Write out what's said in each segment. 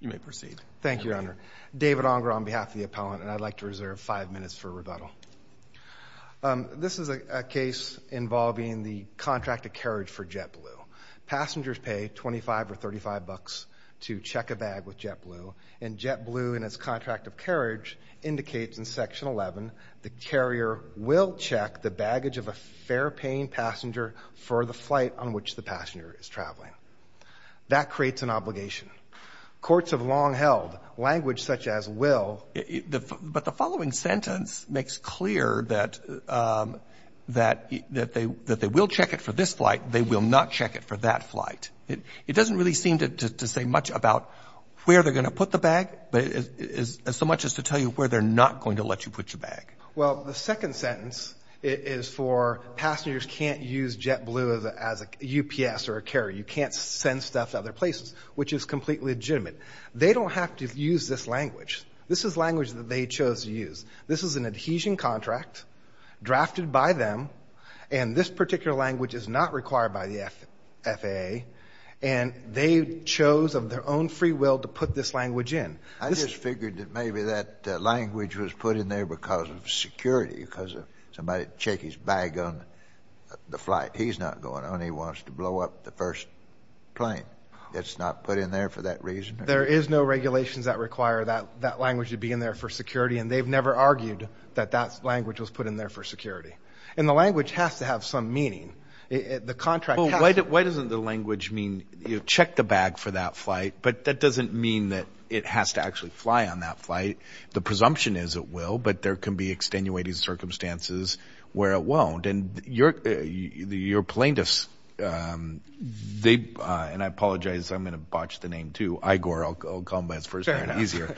You may proceed. Thank you, Your Honor. David Onger on behalf of the appellant and I'd like to reserve five minutes for rebuttal. This is a case involving the contract of carriage for JetBlue. Passengers pay 25 or 35 bucks to check a bag with JetBlue and JetBlue in its contract of carriage indicates in section 11 the carrier will check the baggage of a fair paying passenger for the flight on which the passenger is traveling. That creates an obligation. Courts have long held language such as will... But the following sentence makes clear that that that they that they will check it for this flight they will not check it for that flight. It doesn't really seem to say much about where they're gonna put the bag but it is so much as to tell you where they're not going to let you put your bag. Well the second sentence is for passengers can't use JetBlue as a UPS or a carrier. You can't send stuff other places which is completely legitimate. They don't have to use this language. This is language that they chose to use. This is an adhesion contract drafted by them and this particular language is not required by the FFA and they chose of their own free will to put this language in. I just figured that maybe that language was put in there because of security because of somebody check his bag on the flight. He's not going on he wants to blow up the first plane. It's not put in there for that reason. There is no regulations that require that that language to be in there for security and they've never argued that that language was put in there for security. And the language has to have some meaning. The contract... Why doesn't the language mean you check the bag for that flight but that doesn't mean that it has to actually fly on that flight. The presumption is it will but there can be extenuating circumstances where it won't. And your plaintiffs, and I apologize I'm going to botch the name too, Igor, I'll call him by his first name easier.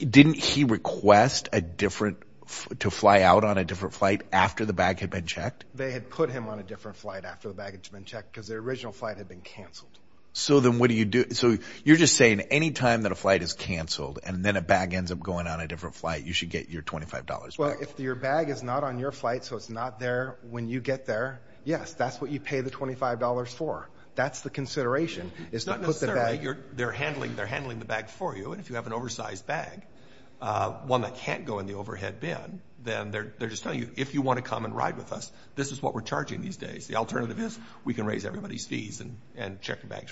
Didn't he request a different to fly out on a different flight after the bag had been checked? They had put him on a different flight after the baggage had been checked because the original flight had been canceled. So then what do you do? So you're just saying any time that a flight is canceled and then a bag ends up going on a different flight you should get your $25. Well if your bag is not on your flight so it's not there when you get there, yes, that's what you pay the $25 for. That's the consideration. It's not necessarily. They're handling the bag for you and if you have an oversized bag, one that can't go in the overhead bin, then they're just telling you if you want to come and ride with us this is what we're charging these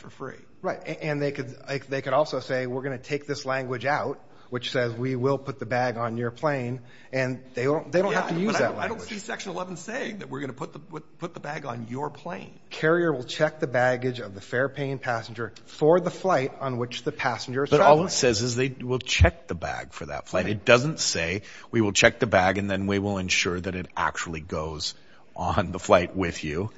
for free. Right and they could also say we're going to take this language out which says we will put the bag on your plane and they don't have to use that language. I don't see section 11 saying that we're going to put the bag on your plane. Carrier will check the baggage of the fare-paying passenger for the flight on which the passenger is traveling. But all it says is they will check the bag for that flight. It doesn't say we will check the bag and then we will ensure that it actually goes on the flight with you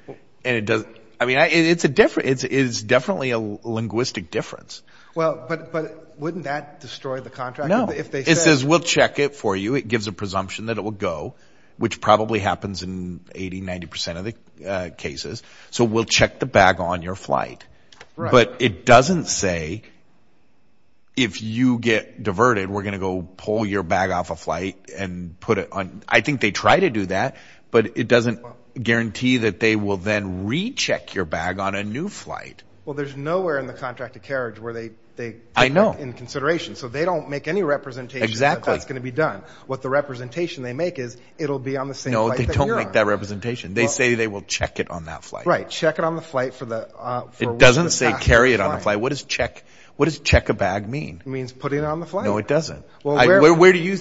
and it doesn't, I mean it's a different, it's definitely a linguistic difference. Well but wouldn't that destroy the contract? No, it says we'll check it for you. It gives a presumption that it will go which probably happens in 80-90% of the cases. So we'll check the bag on your flight but it doesn't say if you get diverted we're gonna go pull your bag off a flight and put it on. I think they try to do that but it doesn't guarantee that they will then recheck your bag on a new flight. Well there's nowhere in the contracted carriage where they take that into consideration. So they don't make any representation that that's going to be done. What the representation they make is it'll be on the same flight that you're on. No, they don't make that representation. They say they will check it on that flight. Right, check it on the flight for which the passenger is flying. It doesn't say carry it on the flight. What does check a bag mean? It means put it on the flight. No it doesn't. Where do you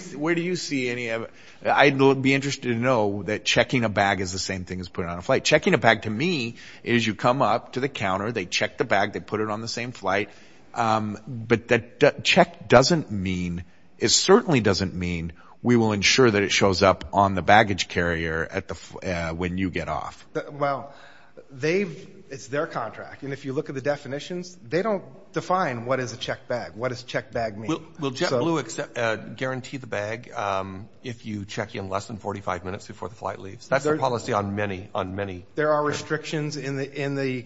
see any of it? I'd be interested to know that checking a bag is the same thing as putting it on a flight. Checking a bag to me is you come up to the counter, they check the bag, they put it on the same flight. But that check doesn't mean, it certainly doesn't mean we will ensure that it shows up on the baggage carrier when you get off. Well it's their contract and if you look at the definitions they don't define what is a bag. Do you guarantee the bag if you check in less than 45 minutes before the flight leaves? That's a policy on many, on many. There are restrictions in the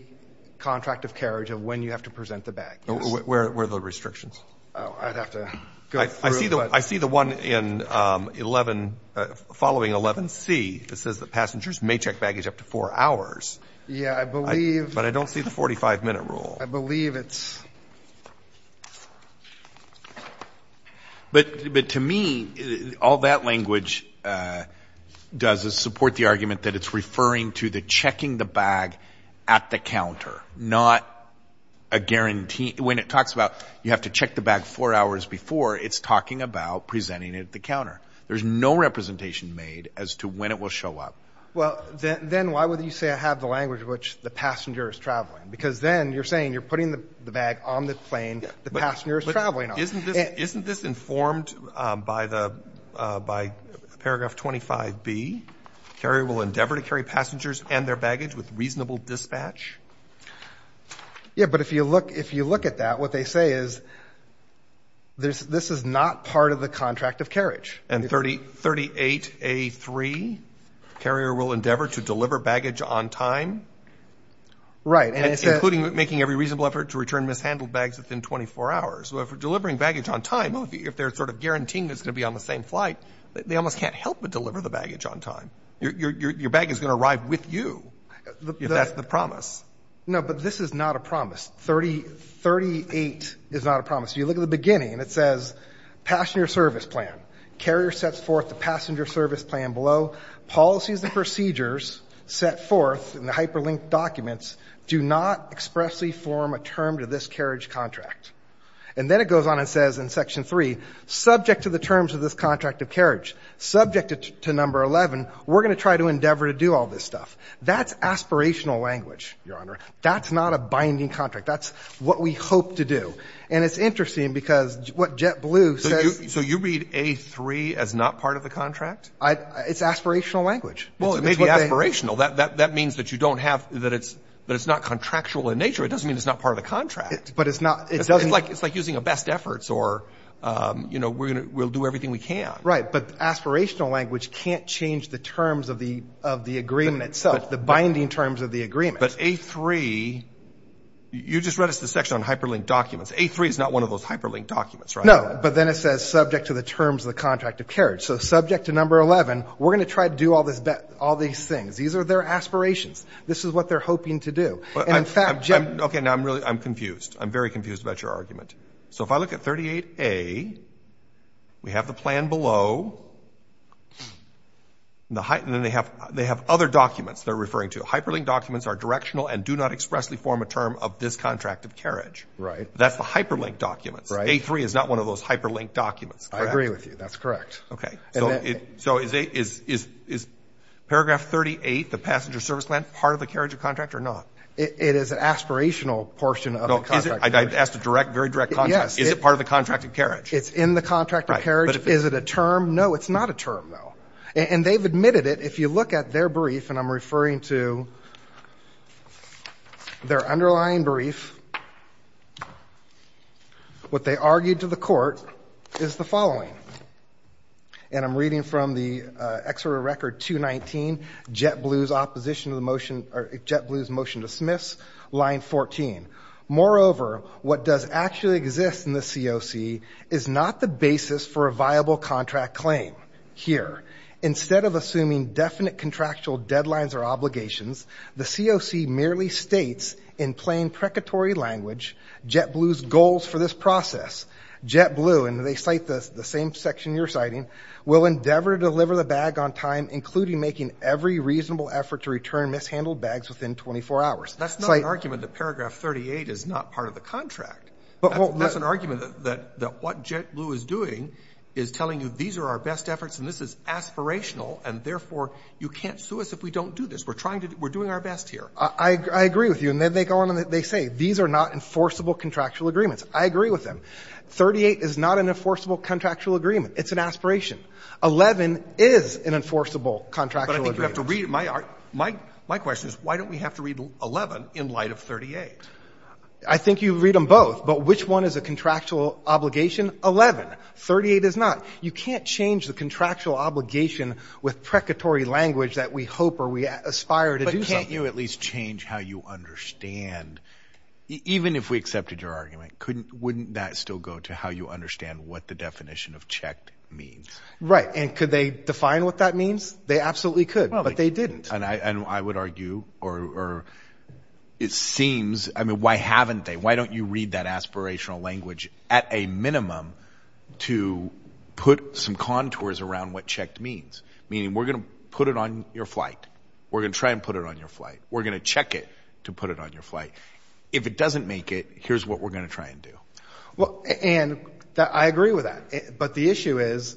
contract of carriage of when you have to present the bag. Where are the restrictions? Oh, I'd have to go through. I see the one in 11, following 11C that says that passengers may check baggage up to four hours. Yeah, I believe. But I don't see the 45 minute rule. I don't either. But to me, all that language does is support the argument that it's referring to the checking the bag at the counter, not a guarantee. When it talks about you have to check the bag four hours before, it's talking about presenting it at the counter. There's no representation made as to when it will show up. Well, then why would you say I have the language which the passenger is traveling? Because then you're saying you're putting the bag on the plane the passenger is traveling on. Isn't this informed by paragraph 25B? Carrier will endeavor to carry passengers and their baggage with reasonable dispatch? Yeah, but if you look at that, what they say is this is not part of the effort to return mishandled bags within 24 hours. So if we're delivering baggage on time, if they're sort of guaranteeing it's going to be on the same flight, they almost can't help but deliver the baggage on time. Your bag is going to arrive with you, if that's the promise. No, but this is not a promise. 38 is not a promise. If you look at the beginning, it says passenger service plan. Carrier sets forth the passenger service plan below. Policies and procedures set forth in the hyperlinked documents do not expressly form a term to this carriage contract. And then it goes on and says in section 3, subject to the terms of this contract of carriage, subject to number 11, we're going to try to endeavor to do all this stuff. That's aspirational language, Your Honor. That's not a binding contract. That's what we hope to do. And it's interesting because what JetBlue says So you read A3 as not part of the contract? It's aspirational language. Well, it may be aspirational. That means that you don't have that. It's but it's not contractual in nature. It doesn't mean it's not part of the contract, but it's not. It doesn't like it's like using a best efforts or, you know, we're going to we'll do everything we can. Right. But aspirational language can't change the terms of the of the agreement itself, the binding terms of the agreement. But A3, you just read us the section on hyperlinked documents. A3 is not one of those hyperlinked documents, right? No. But then it says subject to the terms of the contract of carriage. So subject to number 11, we're going to try to do all this, all these things. These are their aspirations. This is what they're hoping to do. And in fact, I'm OK. Now, I'm really I'm confused. I'm very confused about your argument. So if I look at 38A, we have the plan below the height and then they have they have other documents they're referring to. Hyperlinked documents are directional and do not expressly form a term of this contract of carriage. Right. That's the hyperlinked documents. Right. A3 is not one of those hyperlinked documents. I agree with you. That's correct. OK. So it so is it is is is paragraph 38, the passenger service plan part of the carriage of contract or not? It is an aspirational portion of the contract. I asked a direct, very direct. Yes. Is it part of the contract of carriage? It's in the contract of carriage. Is it a term? No, it's not a term. So I'm going to read through their underlying brief. What they argued to the court is the following. And I'm reading from the extra record to 19 Jet Blue's opposition of the motion or Jet Blue's motion to dismiss line 14. Moreover, what does actually exist in the C.O.C. is not the basis for a The C.O.C. merely states in plain precatory language Jet Blue's goals for this process. Jet Blue, and they cite the same section you're citing, will endeavor to deliver the bag on time, including making every reasonable effort to return mishandled bags within 24 hours. That's not an argument that paragraph 38 is not part of the contract. But that's an argument that what Jet Blue is doing is telling you these are our best efforts and this is aspirational and therefore you can't sue us if we don't do this. We're trying to do, we're doing our best here. I agree with you. And then they go on and they say these are not enforceable contractual agreements. I agree with them. 38 is not an enforceable contractual agreement. It's an aspiration. 11 is an enforceable contractual agreement. But I think you have to read my, my question is why don't we have to read 11 in light of 38? I think you read them both. But which one is a contractual obligation? 11. 38 is not. You can't change the contractual obligation with precatory language that we hope or we aspire to do something. But can't you at least change how you understand, even if we accepted your argument, couldn't, wouldn't that still go to how you understand what the definition of checked means? Right. And could they define what that means? They absolutely could, but they didn't. And I would argue, or it seems, I mean, why haven't they? Why don't you read that aspirational language at a minimum to put some contours around what checked means? Meaning we're going to put it on your flight. We're going to try and put it on your flight. We're going to check it to put it on your flight. If it doesn't make it, here's what we're going to try and do. Well, and I agree with that. But the issue is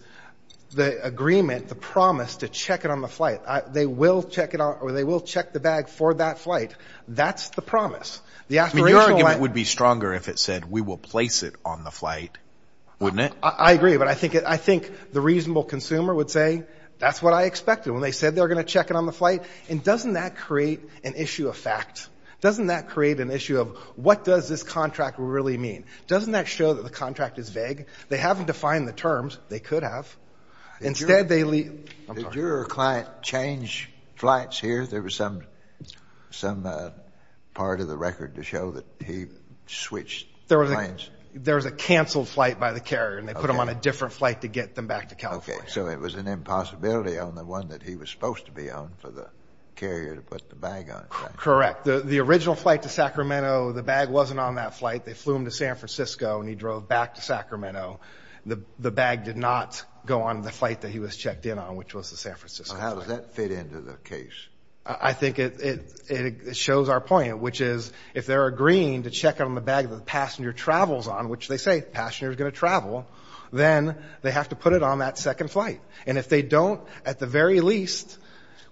the agreement, the promise to check it on the flight. They will check it out or they will check the bag for that flight. That's the promise. The aspirational language... I mean, your argument would be stronger if it said, we will place it on the flight, wouldn't it? I agree. But I think the reasonable consumer would say, that's what I expected when they said they're going to check it on the flight. And doesn't that create an issue of what does this contract really mean? Doesn't that show that the contract is vague? They haven't defined the terms. They could have. Did your client change flights here? There was some part of the record to show that he switched planes? There was a canceled flight by the carrier, and they put him on a different flight to get them back to California. Okay. So it was an impossibility on the one that he was supposed to be on for the carrier to put the bag on. Correct. The original flight to Sacramento, the bag wasn't on that flight. They flew him to San Francisco and he drove back to Sacramento. The bag did not go on the flight that he was checked in on, which was the San Francisco flight. So how does that fit into the case? I think it shows our point, which is, if they're agreeing to check it on the bag that the passenger travels on, which they say the passenger is going to travel, then they have to put it on that second flight. And if they don't, at the very least,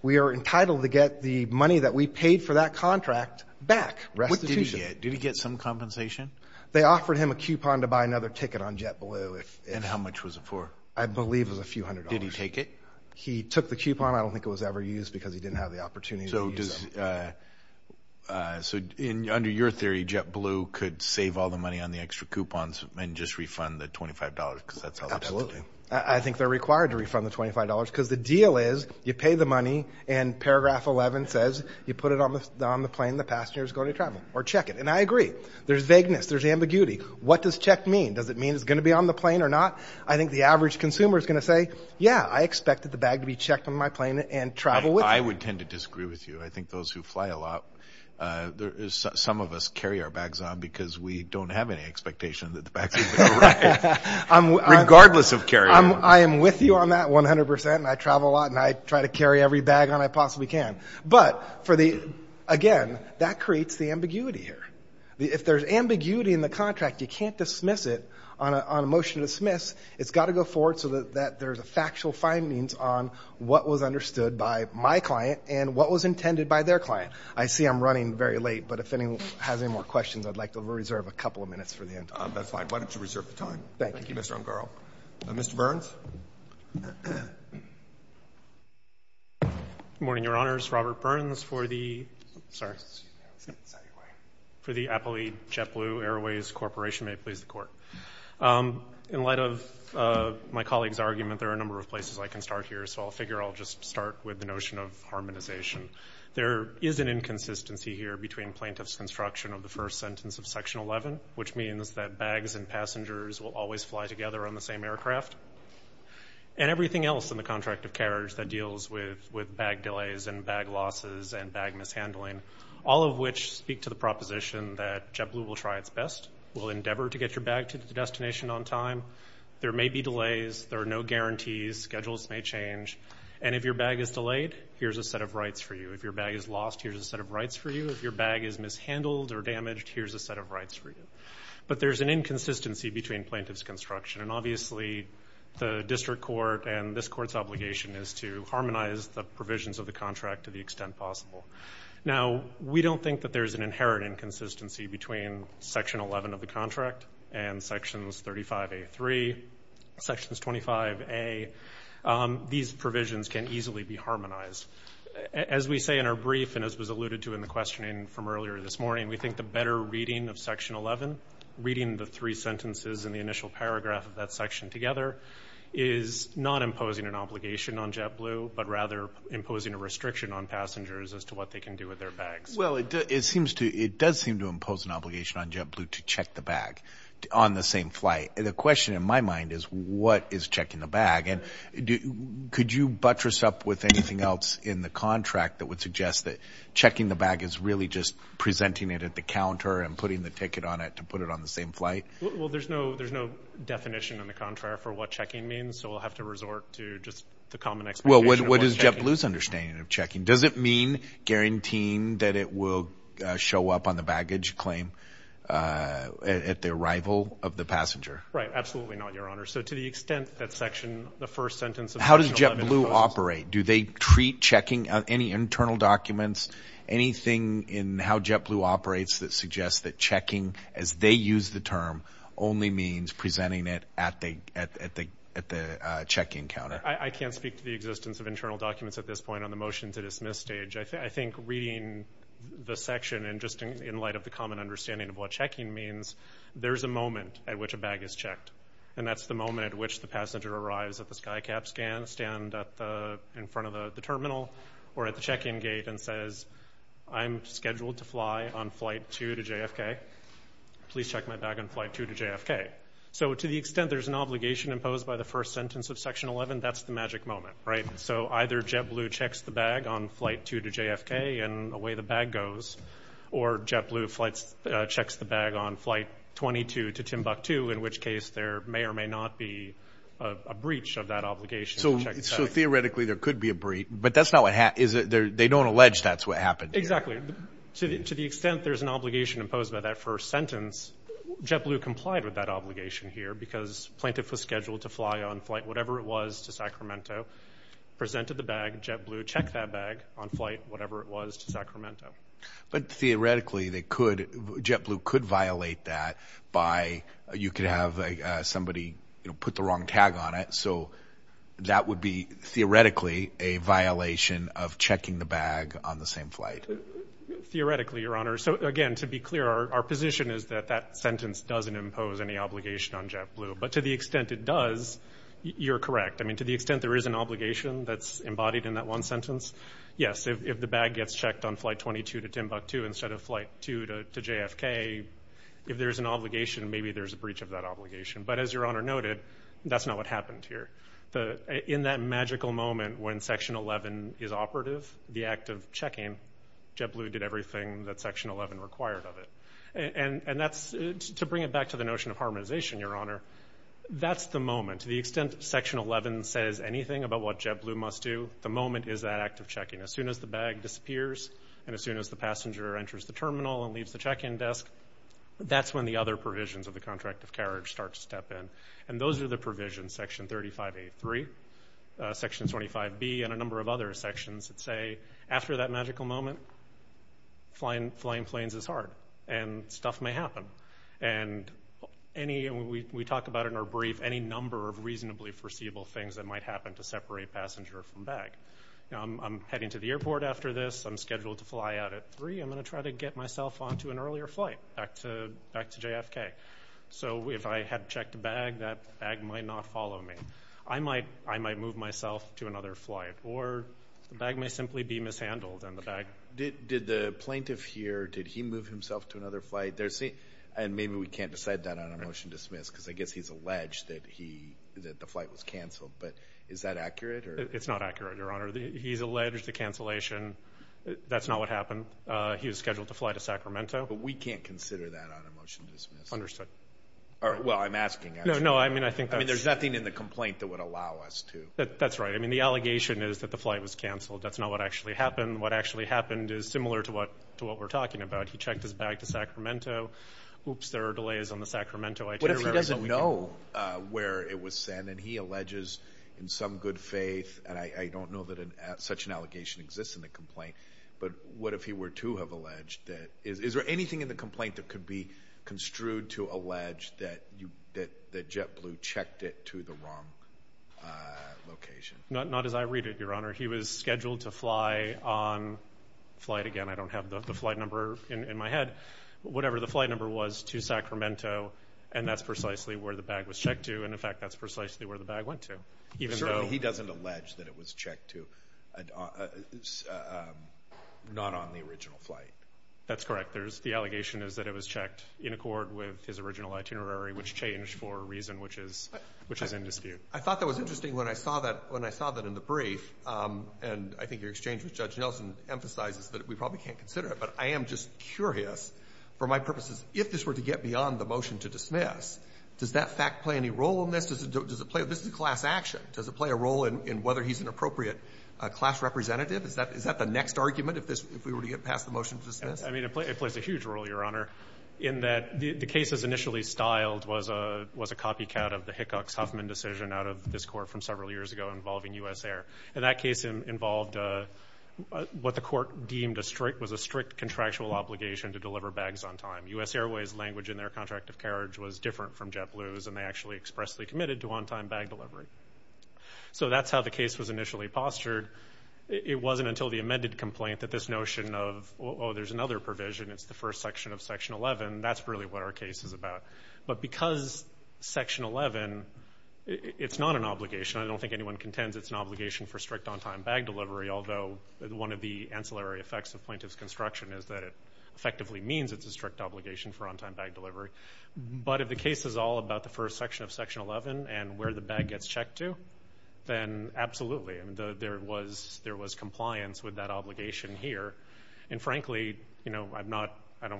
we are entitled to get the money that we paid for that contract back. Did he get some compensation? They offered him a coupon to buy another ticket on JetBlue. And how much was it for? I believe it was a few hundred dollars. Did he take it? He took the coupon. I don't think it was ever used because he didn't have the opportunity to use it. So under your theory, JetBlue could save all the money on the extra coupons and just refund the $25 because that's how they're supposed to do it. Absolutely. I think they're required to refund the $25 because the deal is you pay the money and paragraph 11 says you put it on the plane the passenger is going to travel or check it. And I agree. There's vagueness. There's ambiguity. What does check mean? Does it mean it's going to be on the plane or not? I think the average consumer is going to say, yeah, I expected the bag to be checked on my plane and travel with it. I would tend to disagree with you. I think those who fly a lot, some of us carry our bags on because we don't have any expectation that the bags are going to arrive regardless of carrying them on. I am with you on that 100% and I travel a lot and I try to carry every bag on I possibly can. But again, that creates the ambiguity here. If there's ambiguity in the contract, you can't dismiss it on a motion to dismiss. It's got to go forward so that there's a factual findings on what was understood by my client and what was intended by their client. I see I'm running very late, but if anyone has any more questions, I'd like to reserve a couple of minutes for the end. That's fine. Why don't you reserve the time? Thank you, Mr. Ungarl. Mr. Burns. Good morning, Your Honors. Robert Burns for the Apple JetBlue Airways Corporation. May it please the Court. In light of my colleague's argument, there are a number of places I can start here, so I figure I'll just start with the notion of harmonization. There is an inconsistency here between plaintiff's construction of the first sentence of Section 11, which means that bags and passengers will always fly together on the same aircraft, and everything else in the contract of carriage that deals with bag delays and bag losses and bag mishandling, all of which speak to the proposition that JetBlue will try its best, will endeavor to get your bag to the destination on time. There may be delays. There are no guarantees. Schedules may change. And if your bag is delayed, here's a set of rights for you. If your bag is lost, here's a set of rights for you. If your bag is mishandled or damaged, here's a set of rights for you. But there's an inconsistency between plaintiff's construction, and obviously the district court and this Court's obligation is to harmonize the provisions of the contract to the extent possible. Now, we don't think that there's an inherent inconsistency between Section 11 of the contract and Sections 35A3, Sections 25A. These provisions can easily be harmonized. As we say in our brief and as was alluded to in the questioning from earlier this morning, we think the better reading of Section 11, reading the three sentences and the initial paragraph of that section together, is not imposing an obligation on JetBlue, but rather imposing a restriction on passengers as to what they can do with their bags. Well, it does seem to impose an obligation on JetBlue to check the bag on the same flight. The question in my mind is, what is checking the bag? And could you buttress up with anything else in the contract that would suggest that checking the bag is really just presenting it at the counter and putting the ticket on it to put it on the same flight? Well, there's no definition in the contract for what checking means, so we'll have to resort to just the common explanation of what checking is. Well, what is JetBlue's understanding of checking? Does it mean guaranteeing that it will show up on the baggage claim at the arrival of the passenger? Right, absolutely not, Your Honor. So to the extent that section, the first sentence of Section 11- How does JetBlue operate? Do they treat checking, any internal documents, anything in how JetBlue operates that suggests that checking, as they use the term, only means presenting it at the check-in counter? I can't speak to the existence of internal documents at this point on the motion to dismiss stage. I think reading the section and just in light of the common understanding of what checking means, there's a moment at which a bag is checked, and that's the moment at which the passenger arrives at the skycap scan, stand in front of the terminal or at the check-in gate and says, I'm scheduled to fly on Flight 2 to JFK. Please check my bag on Flight 2 to JFK. So to the extent there's an obligation imposed by the first sentence of Section 11, that's the magic moment, right? So either JetBlue checks the bag on Flight 2 to JFK and away the bag goes, or JetBlue checks the bag on Flight 22 to Timbuktu, in which case there may or may not be a breach of that obligation. So theoretically there could be a breach, but they don't allege that's what happened here. Exactly. To the extent there's an obligation imposed by that first sentence, JetBlue complied with that obligation here because plaintiff was scheduled to fly on flight whatever it was to Sacramento, presented the bag, JetBlue checked that bag on flight whatever it was to Sacramento. But theoretically JetBlue could violate that by you could have somebody put the wrong tag on it, so that would be theoretically a violation of checking the bag on the same flight. Theoretically, Your Honor. So again, to be clear, our position is that that sentence doesn't impose any obligation on JetBlue. But to the extent it does, you're correct. I mean, to the extent there is an obligation that's embodied in that one sentence, yes. If the bag gets checked on Flight 22 to Timbuktu instead of Flight 2 to JFK, if there's an obligation, maybe there's a breach of that obligation. But as Your Honor noted, that's not what happened here. In that magical moment when Section 11 is operative, the act of checking, JetBlue did everything that Section 11 required of it. And to bring it back to the notion of harmonization, Your Honor, that's the moment. To the extent Section 11 says anything about what JetBlue must do, the moment is that act of checking. As soon as the bag disappears and as soon as the passenger enters the terminal and leaves the check-in desk, that's when the other provisions of the contract of carriage start to step in. And those are the provisions, Section 35A.3, Section 25B, and a number of other sections that say, after that magical moment, flying planes is hard and stuff may happen. And we talk about in our brief any number of reasonably foreseeable things that might happen to separate passenger from bag. I'm heading to the airport after this. I'm scheduled to fly out at 3. I'm going to try to get myself on to an earlier flight back to JFK. So if I had checked a bag, that bag might not follow me. I might move myself to another flight, or the bag may simply be mishandled and the bag. Did the plaintiff here, did he move himself to another flight? And maybe we can't decide that on a motion to dismiss because I guess he's alleged that the flight was canceled. But is that accurate? It's not accurate, Your Honor. He's alleged the cancellation. That's not what happened. He was scheduled to fly to Sacramento. But we can't consider that on a motion to dismiss. Understood. Well, I'm asking. No, no, I mean, I think that's. I mean, there's nothing in the complaint that would allow us to. That's right. I mean, the allegation is that the flight was canceled. That's not what actually happened. What actually happened is similar to what we're talking about. He checked his bag to Sacramento. Oops, there are delays on the Sacramento itinerary. What if he doesn't know where it was sent, and he alleges in some good faith, and I don't know that such an allegation exists in the complaint. But what if he were to have alleged that? Is there anything in the complaint that could be construed to allege that JetBlue checked it to the wrong location? Not as I read it, Your Honor. He was scheduled to fly on flight. Again, I don't have the flight number in my head. Whatever the flight number was to Sacramento, and that's precisely where the bag was checked to, and, in fact, that's precisely where the bag went to. Certainly he doesn't allege that it was checked to not on the original flight. That's correct. The allegation is that it was checked in accord with his original itinerary, which changed for a reason which is in dispute. I thought that was interesting when I saw that in the brief, and I think your exchange with Judge Nelson emphasizes that we probably can't consider it. But I am just curious, for my purposes, if this were to get beyond the motion to dismiss, does that fact play any role in this? Does it play a role? This is a class action. Does it play a role in whether he's an appropriate class representative? Is that the next argument if we were to get past the motion to dismiss? I mean, it plays a huge role, Your Honor, in that the case as initially styled was a copycat of the Hickox-Huffman decision out of this court from several years ago involving U.S. Air. And that case involved what the court deemed was a strict contractual obligation to deliver bags on time. U.S. Airways' language in their contract of carriage was different from JetBlue's, and they actually expressly committed to on-time bag delivery. So that's how the case was initially postured. It wasn't until the amended complaint that this notion of, oh, there's another provision, it's the first section of Section 11, that's really what our case is about. But because Section 11, it's not an obligation. I don't think anyone contends it's an obligation for strict on-time bag delivery, although one of the ancillary effects of plaintiff's construction is that it effectively means it's a strict obligation for on-time bag delivery. But if the case is all about the first section of Section 11 and where the bag gets checked to, then absolutely. There was compliance with that obligation here. And, frankly, I don't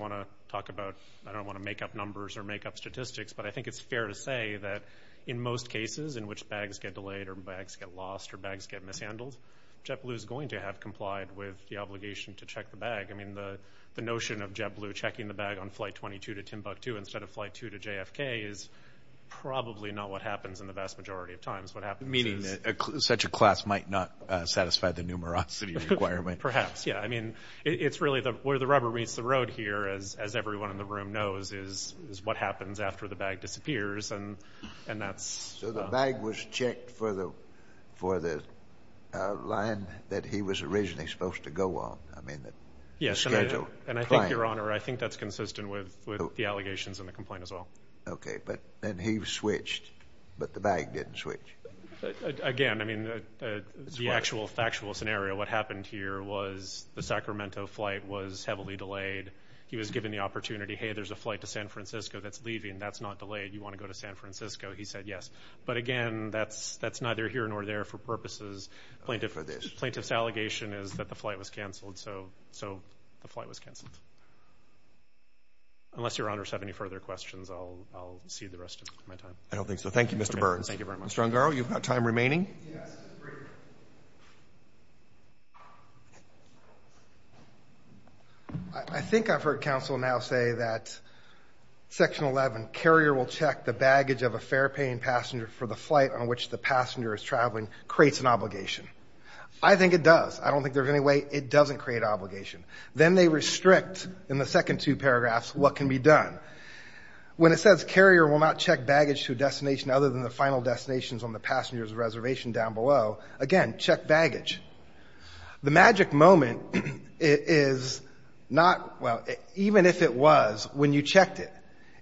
want to make up numbers or make up statistics, but I think it's fair to say that in most cases in which bags get delayed or bags get lost or bags get mishandled, JetBlue is going to have complied with the obligation to check the bag. I mean, the notion of JetBlue checking the bag on Flight 22 to Timbuktu instead of Flight 2 to JFK is probably not what happens in the vast majority of times. Meaning that such a class might not satisfy the numerosity requirement. Perhaps, yeah. I mean, it's really where the rubber meets the road here, as everyone in the room knows, is what happens after the bag disappears, and that's... So the bag was checked for the line that he was originally supposed to go on. Yes, and I think, Your Honor, I think that's consistent with the allegations in the complaint as well. Okay, but then he switched, but the bag didn't switch. Again, I mean, the actual factual scenario, what happened here was the Sacramento flight was heavily delayed. He was given the opportunity, hey, there's a flight to San Francisco that's leaving. That's not delayed. You want to go to San Francisco? He said yes. But, again, that's neither here nor there for purposes. Plaintiff's allegation is that the flight was canceled, so the flight was canceled. Unless Your Honors have any further questions, I'll cede the rest of my time. I don't think so. Thank you, Mr. Burns. Thank you very much. Mr. Ungaro, you've got time remaining. Yes. I think I've heard counsel now say that Section 11, carrier will check the baggage of a fare-paying passenger for the flight on which the passenger is traveling, creates an obligation. I think it does. I don't think there's any way it doesn't create an obligation. Then they restrict, in the second two paragraphs, what can be done. When it says carrier will not check baggage to a destination other than the final destination on the passenger's reservation down below, again, check baggage. The magic moment is not, well, even if it was, when you checked it,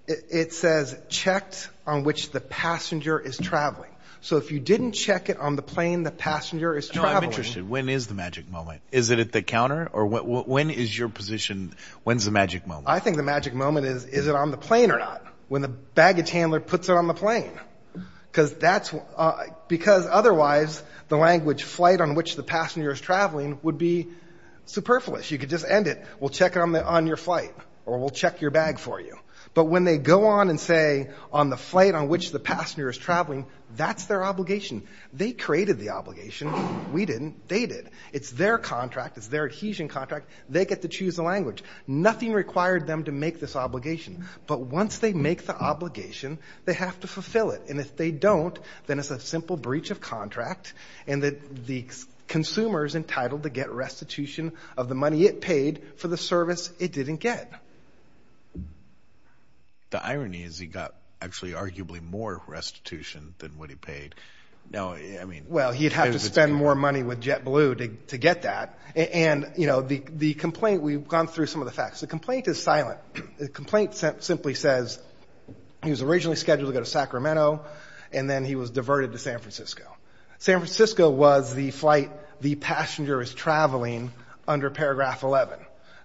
it says checked on which the passenger is traveling. So if you didn't check it on the plane the passenger is traveling. No, I'm interested. When is the magic moment? Is it at the counter? Or when is your position, when's the magic moment? I think the magic moment is, is it on the plane or not? When the baggage handler puts it on the plane. Because otherwise the language flight on which the passenger is traveling would be superfluous. You could just end it. We'll check it on your flight. Or we'll check your bag for you. But when they go on and say on the flight on which the passenger is traveling, that's their obligation. They created the obligation. We didn't. They did. It's their contract. It's their adhesion contract. They get to choose the language. Nothing required them to make this obligation. But once they make the obligation, they have to fulfill it. And if they don't, then it's a simple breach of contract. And the consumer is entitled to get restitution of the money it paid for the service it didn't get. The irony is he got actually arguably more restitution than what he paid. Well, he'd have to spend more money with JetBlue to get that. And the complaint, we've gone through some of the facts. The complaint is silent. The complaint simply says he was originally scheduled to go to Sacramento, and then he was diverted to San Francisco. San Francisco was the flight the passenger is traveling under paragraph 11,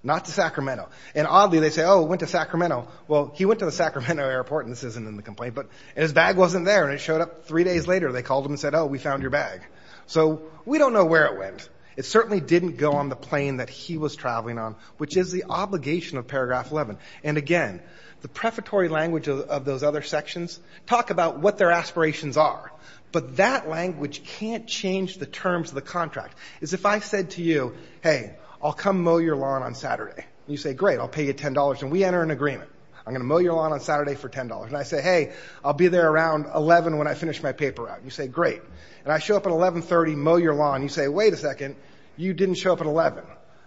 not to Sacramento. And oddly they say, oh, it went to Sacramento. Well, he went to the Sacramento airport, and this isn't in the complaint. But his bag wasn't there, and it showed up three days later. They called him and said, oh, we found your bag. So we don't know where it went. It certainly didn't go on the plane that he was traveling on, which is the obligation of paragraph 11. And, again, the prefatory language of those other sections talk about what their aspirations are. But that language can't change the terms of the contract. It's if I said to you, hey, I'll come mow your lawn on Saturday. You say, great, I'll pay you $10. And we enter an agreement. I'm going to mow your lawn on Saturday for $10. And I say, hey, I'll be there around 11 when I finish my paper route. You say, great. And I show up at 11.30, mow your lawn. You say, wait a second, you didn't show up at 11.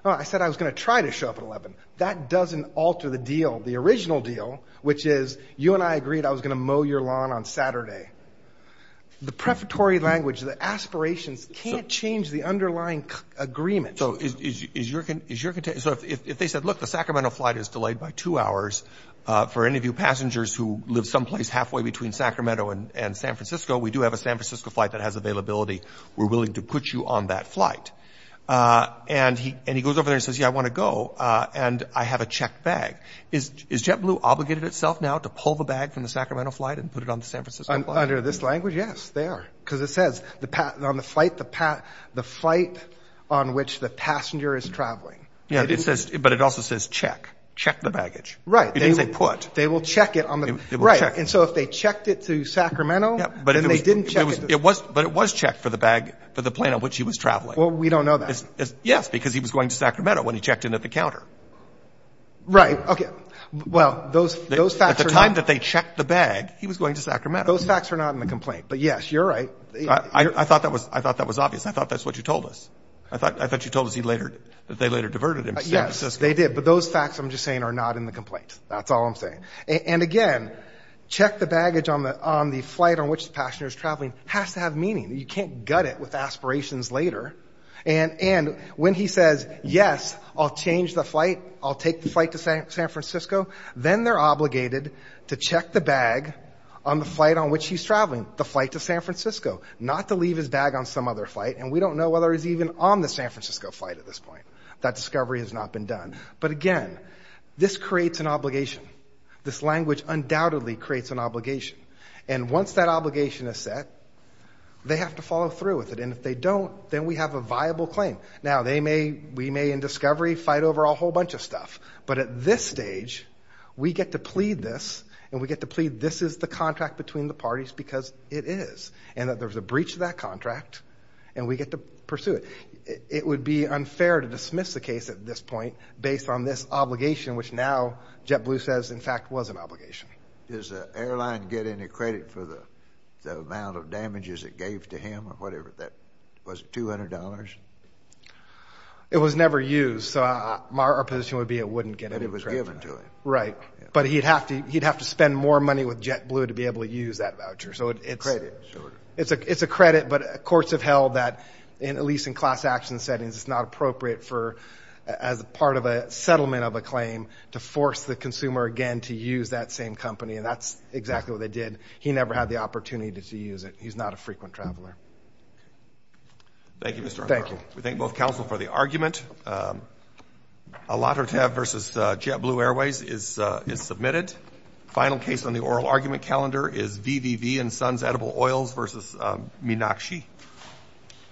I said I was going to try to show up at 11. That doesn't alter the deal, the original deal, which is you and I agreed I was going to mow your lawn on Saturday. The prefatory language, the aspirations can't change the underlying agreement. So if they said, look, the Sacramento flight is delayed by two hours, for any of you passengers who live someplace halfway between Sacramento and San Francisco, we do have a San Francisco flight that has availability. We're willing to put you on that flight. And he goes over there and says, yeah, I want to go, and I have a checked bag. Is JetBlue obligated itself now to pull the bag from the Sacramento flight and put it on the San Francisco flight? Under this language, yes, they are. Because it says, on the flight, the flight on which the passenger is traveling. Yeah, but it also says check. Check the baggage. Right. It didn't say put. They will check it. Right. And so if they checked it through Sacramento, then they didn't check it. But it was checked for the bag, for the plane on which he was traveling. Well, we don't know that. Yes, because he was going to Sacramento when he checked in at the counter. Right. Okay. Well, those facts are not. At the time that they checked the bag, he was going to Sacramento. Those facts are not in the complaint. But, yes, you're right. I thought that was obvious. I thought that's what you told us. I thought you told us that they later diverted him to San Francisco. Yes, they did. But those facts, I'm just saying, are not in the complaint. That's all I'm saying. And, again, check the baggage on the flight on which the passenger is traveling has to have meaning. You can't gut it with aspirations later. And when he says, yes, I'll change the flight, I'll take the flight to San Francisco, then they're obligated to check the bag on the flight on which he's traveling, the flight to San Francisco, not to leave his bag on some other flight. And we don't know whether he's even on the San Francisco flight at this point. That discovery has not been done. But, again, this creates an obligation. This language undoubtedly creates an obligation. And once that obligation is set, they have to follow through with it. And if they don't, then we have a viable claim. Now, we may, in discovery, fight over a whole bunch of stuff. But at this stage, we get to plead this, and we get to plead this is the contract between the parties because it is, and that there's a breach of that contract, and we get to pursue it. It would be unfair to dismiss the case at this point based on this obligation, which now JetBlue says, in fact, was an obligation. Does the airline get any credit for the amount of damages it gave to him or whatever? Was it $200? It was never used. So our position would be it wouldn't get any credit. But it was given to him. Right. But he'd have to spend more money with JetBlue to be able to use that voucher. So it's a credit. But courts have held that, at least in class action settings, it's not appropriate for, as part of a settlement of a claim, to force the consumer again to use that same company. And that's exactly what they did. He never had the opportunity to use it. He's not a frequent traveler. Thank you, Mr. Hunter. Thank you. We thank both counsel for the argument. A lottery tab versus JetBlue Airways is submitted. Final case on the oral argument calendar is VVV and Sons Edible Oils versus Minakshi.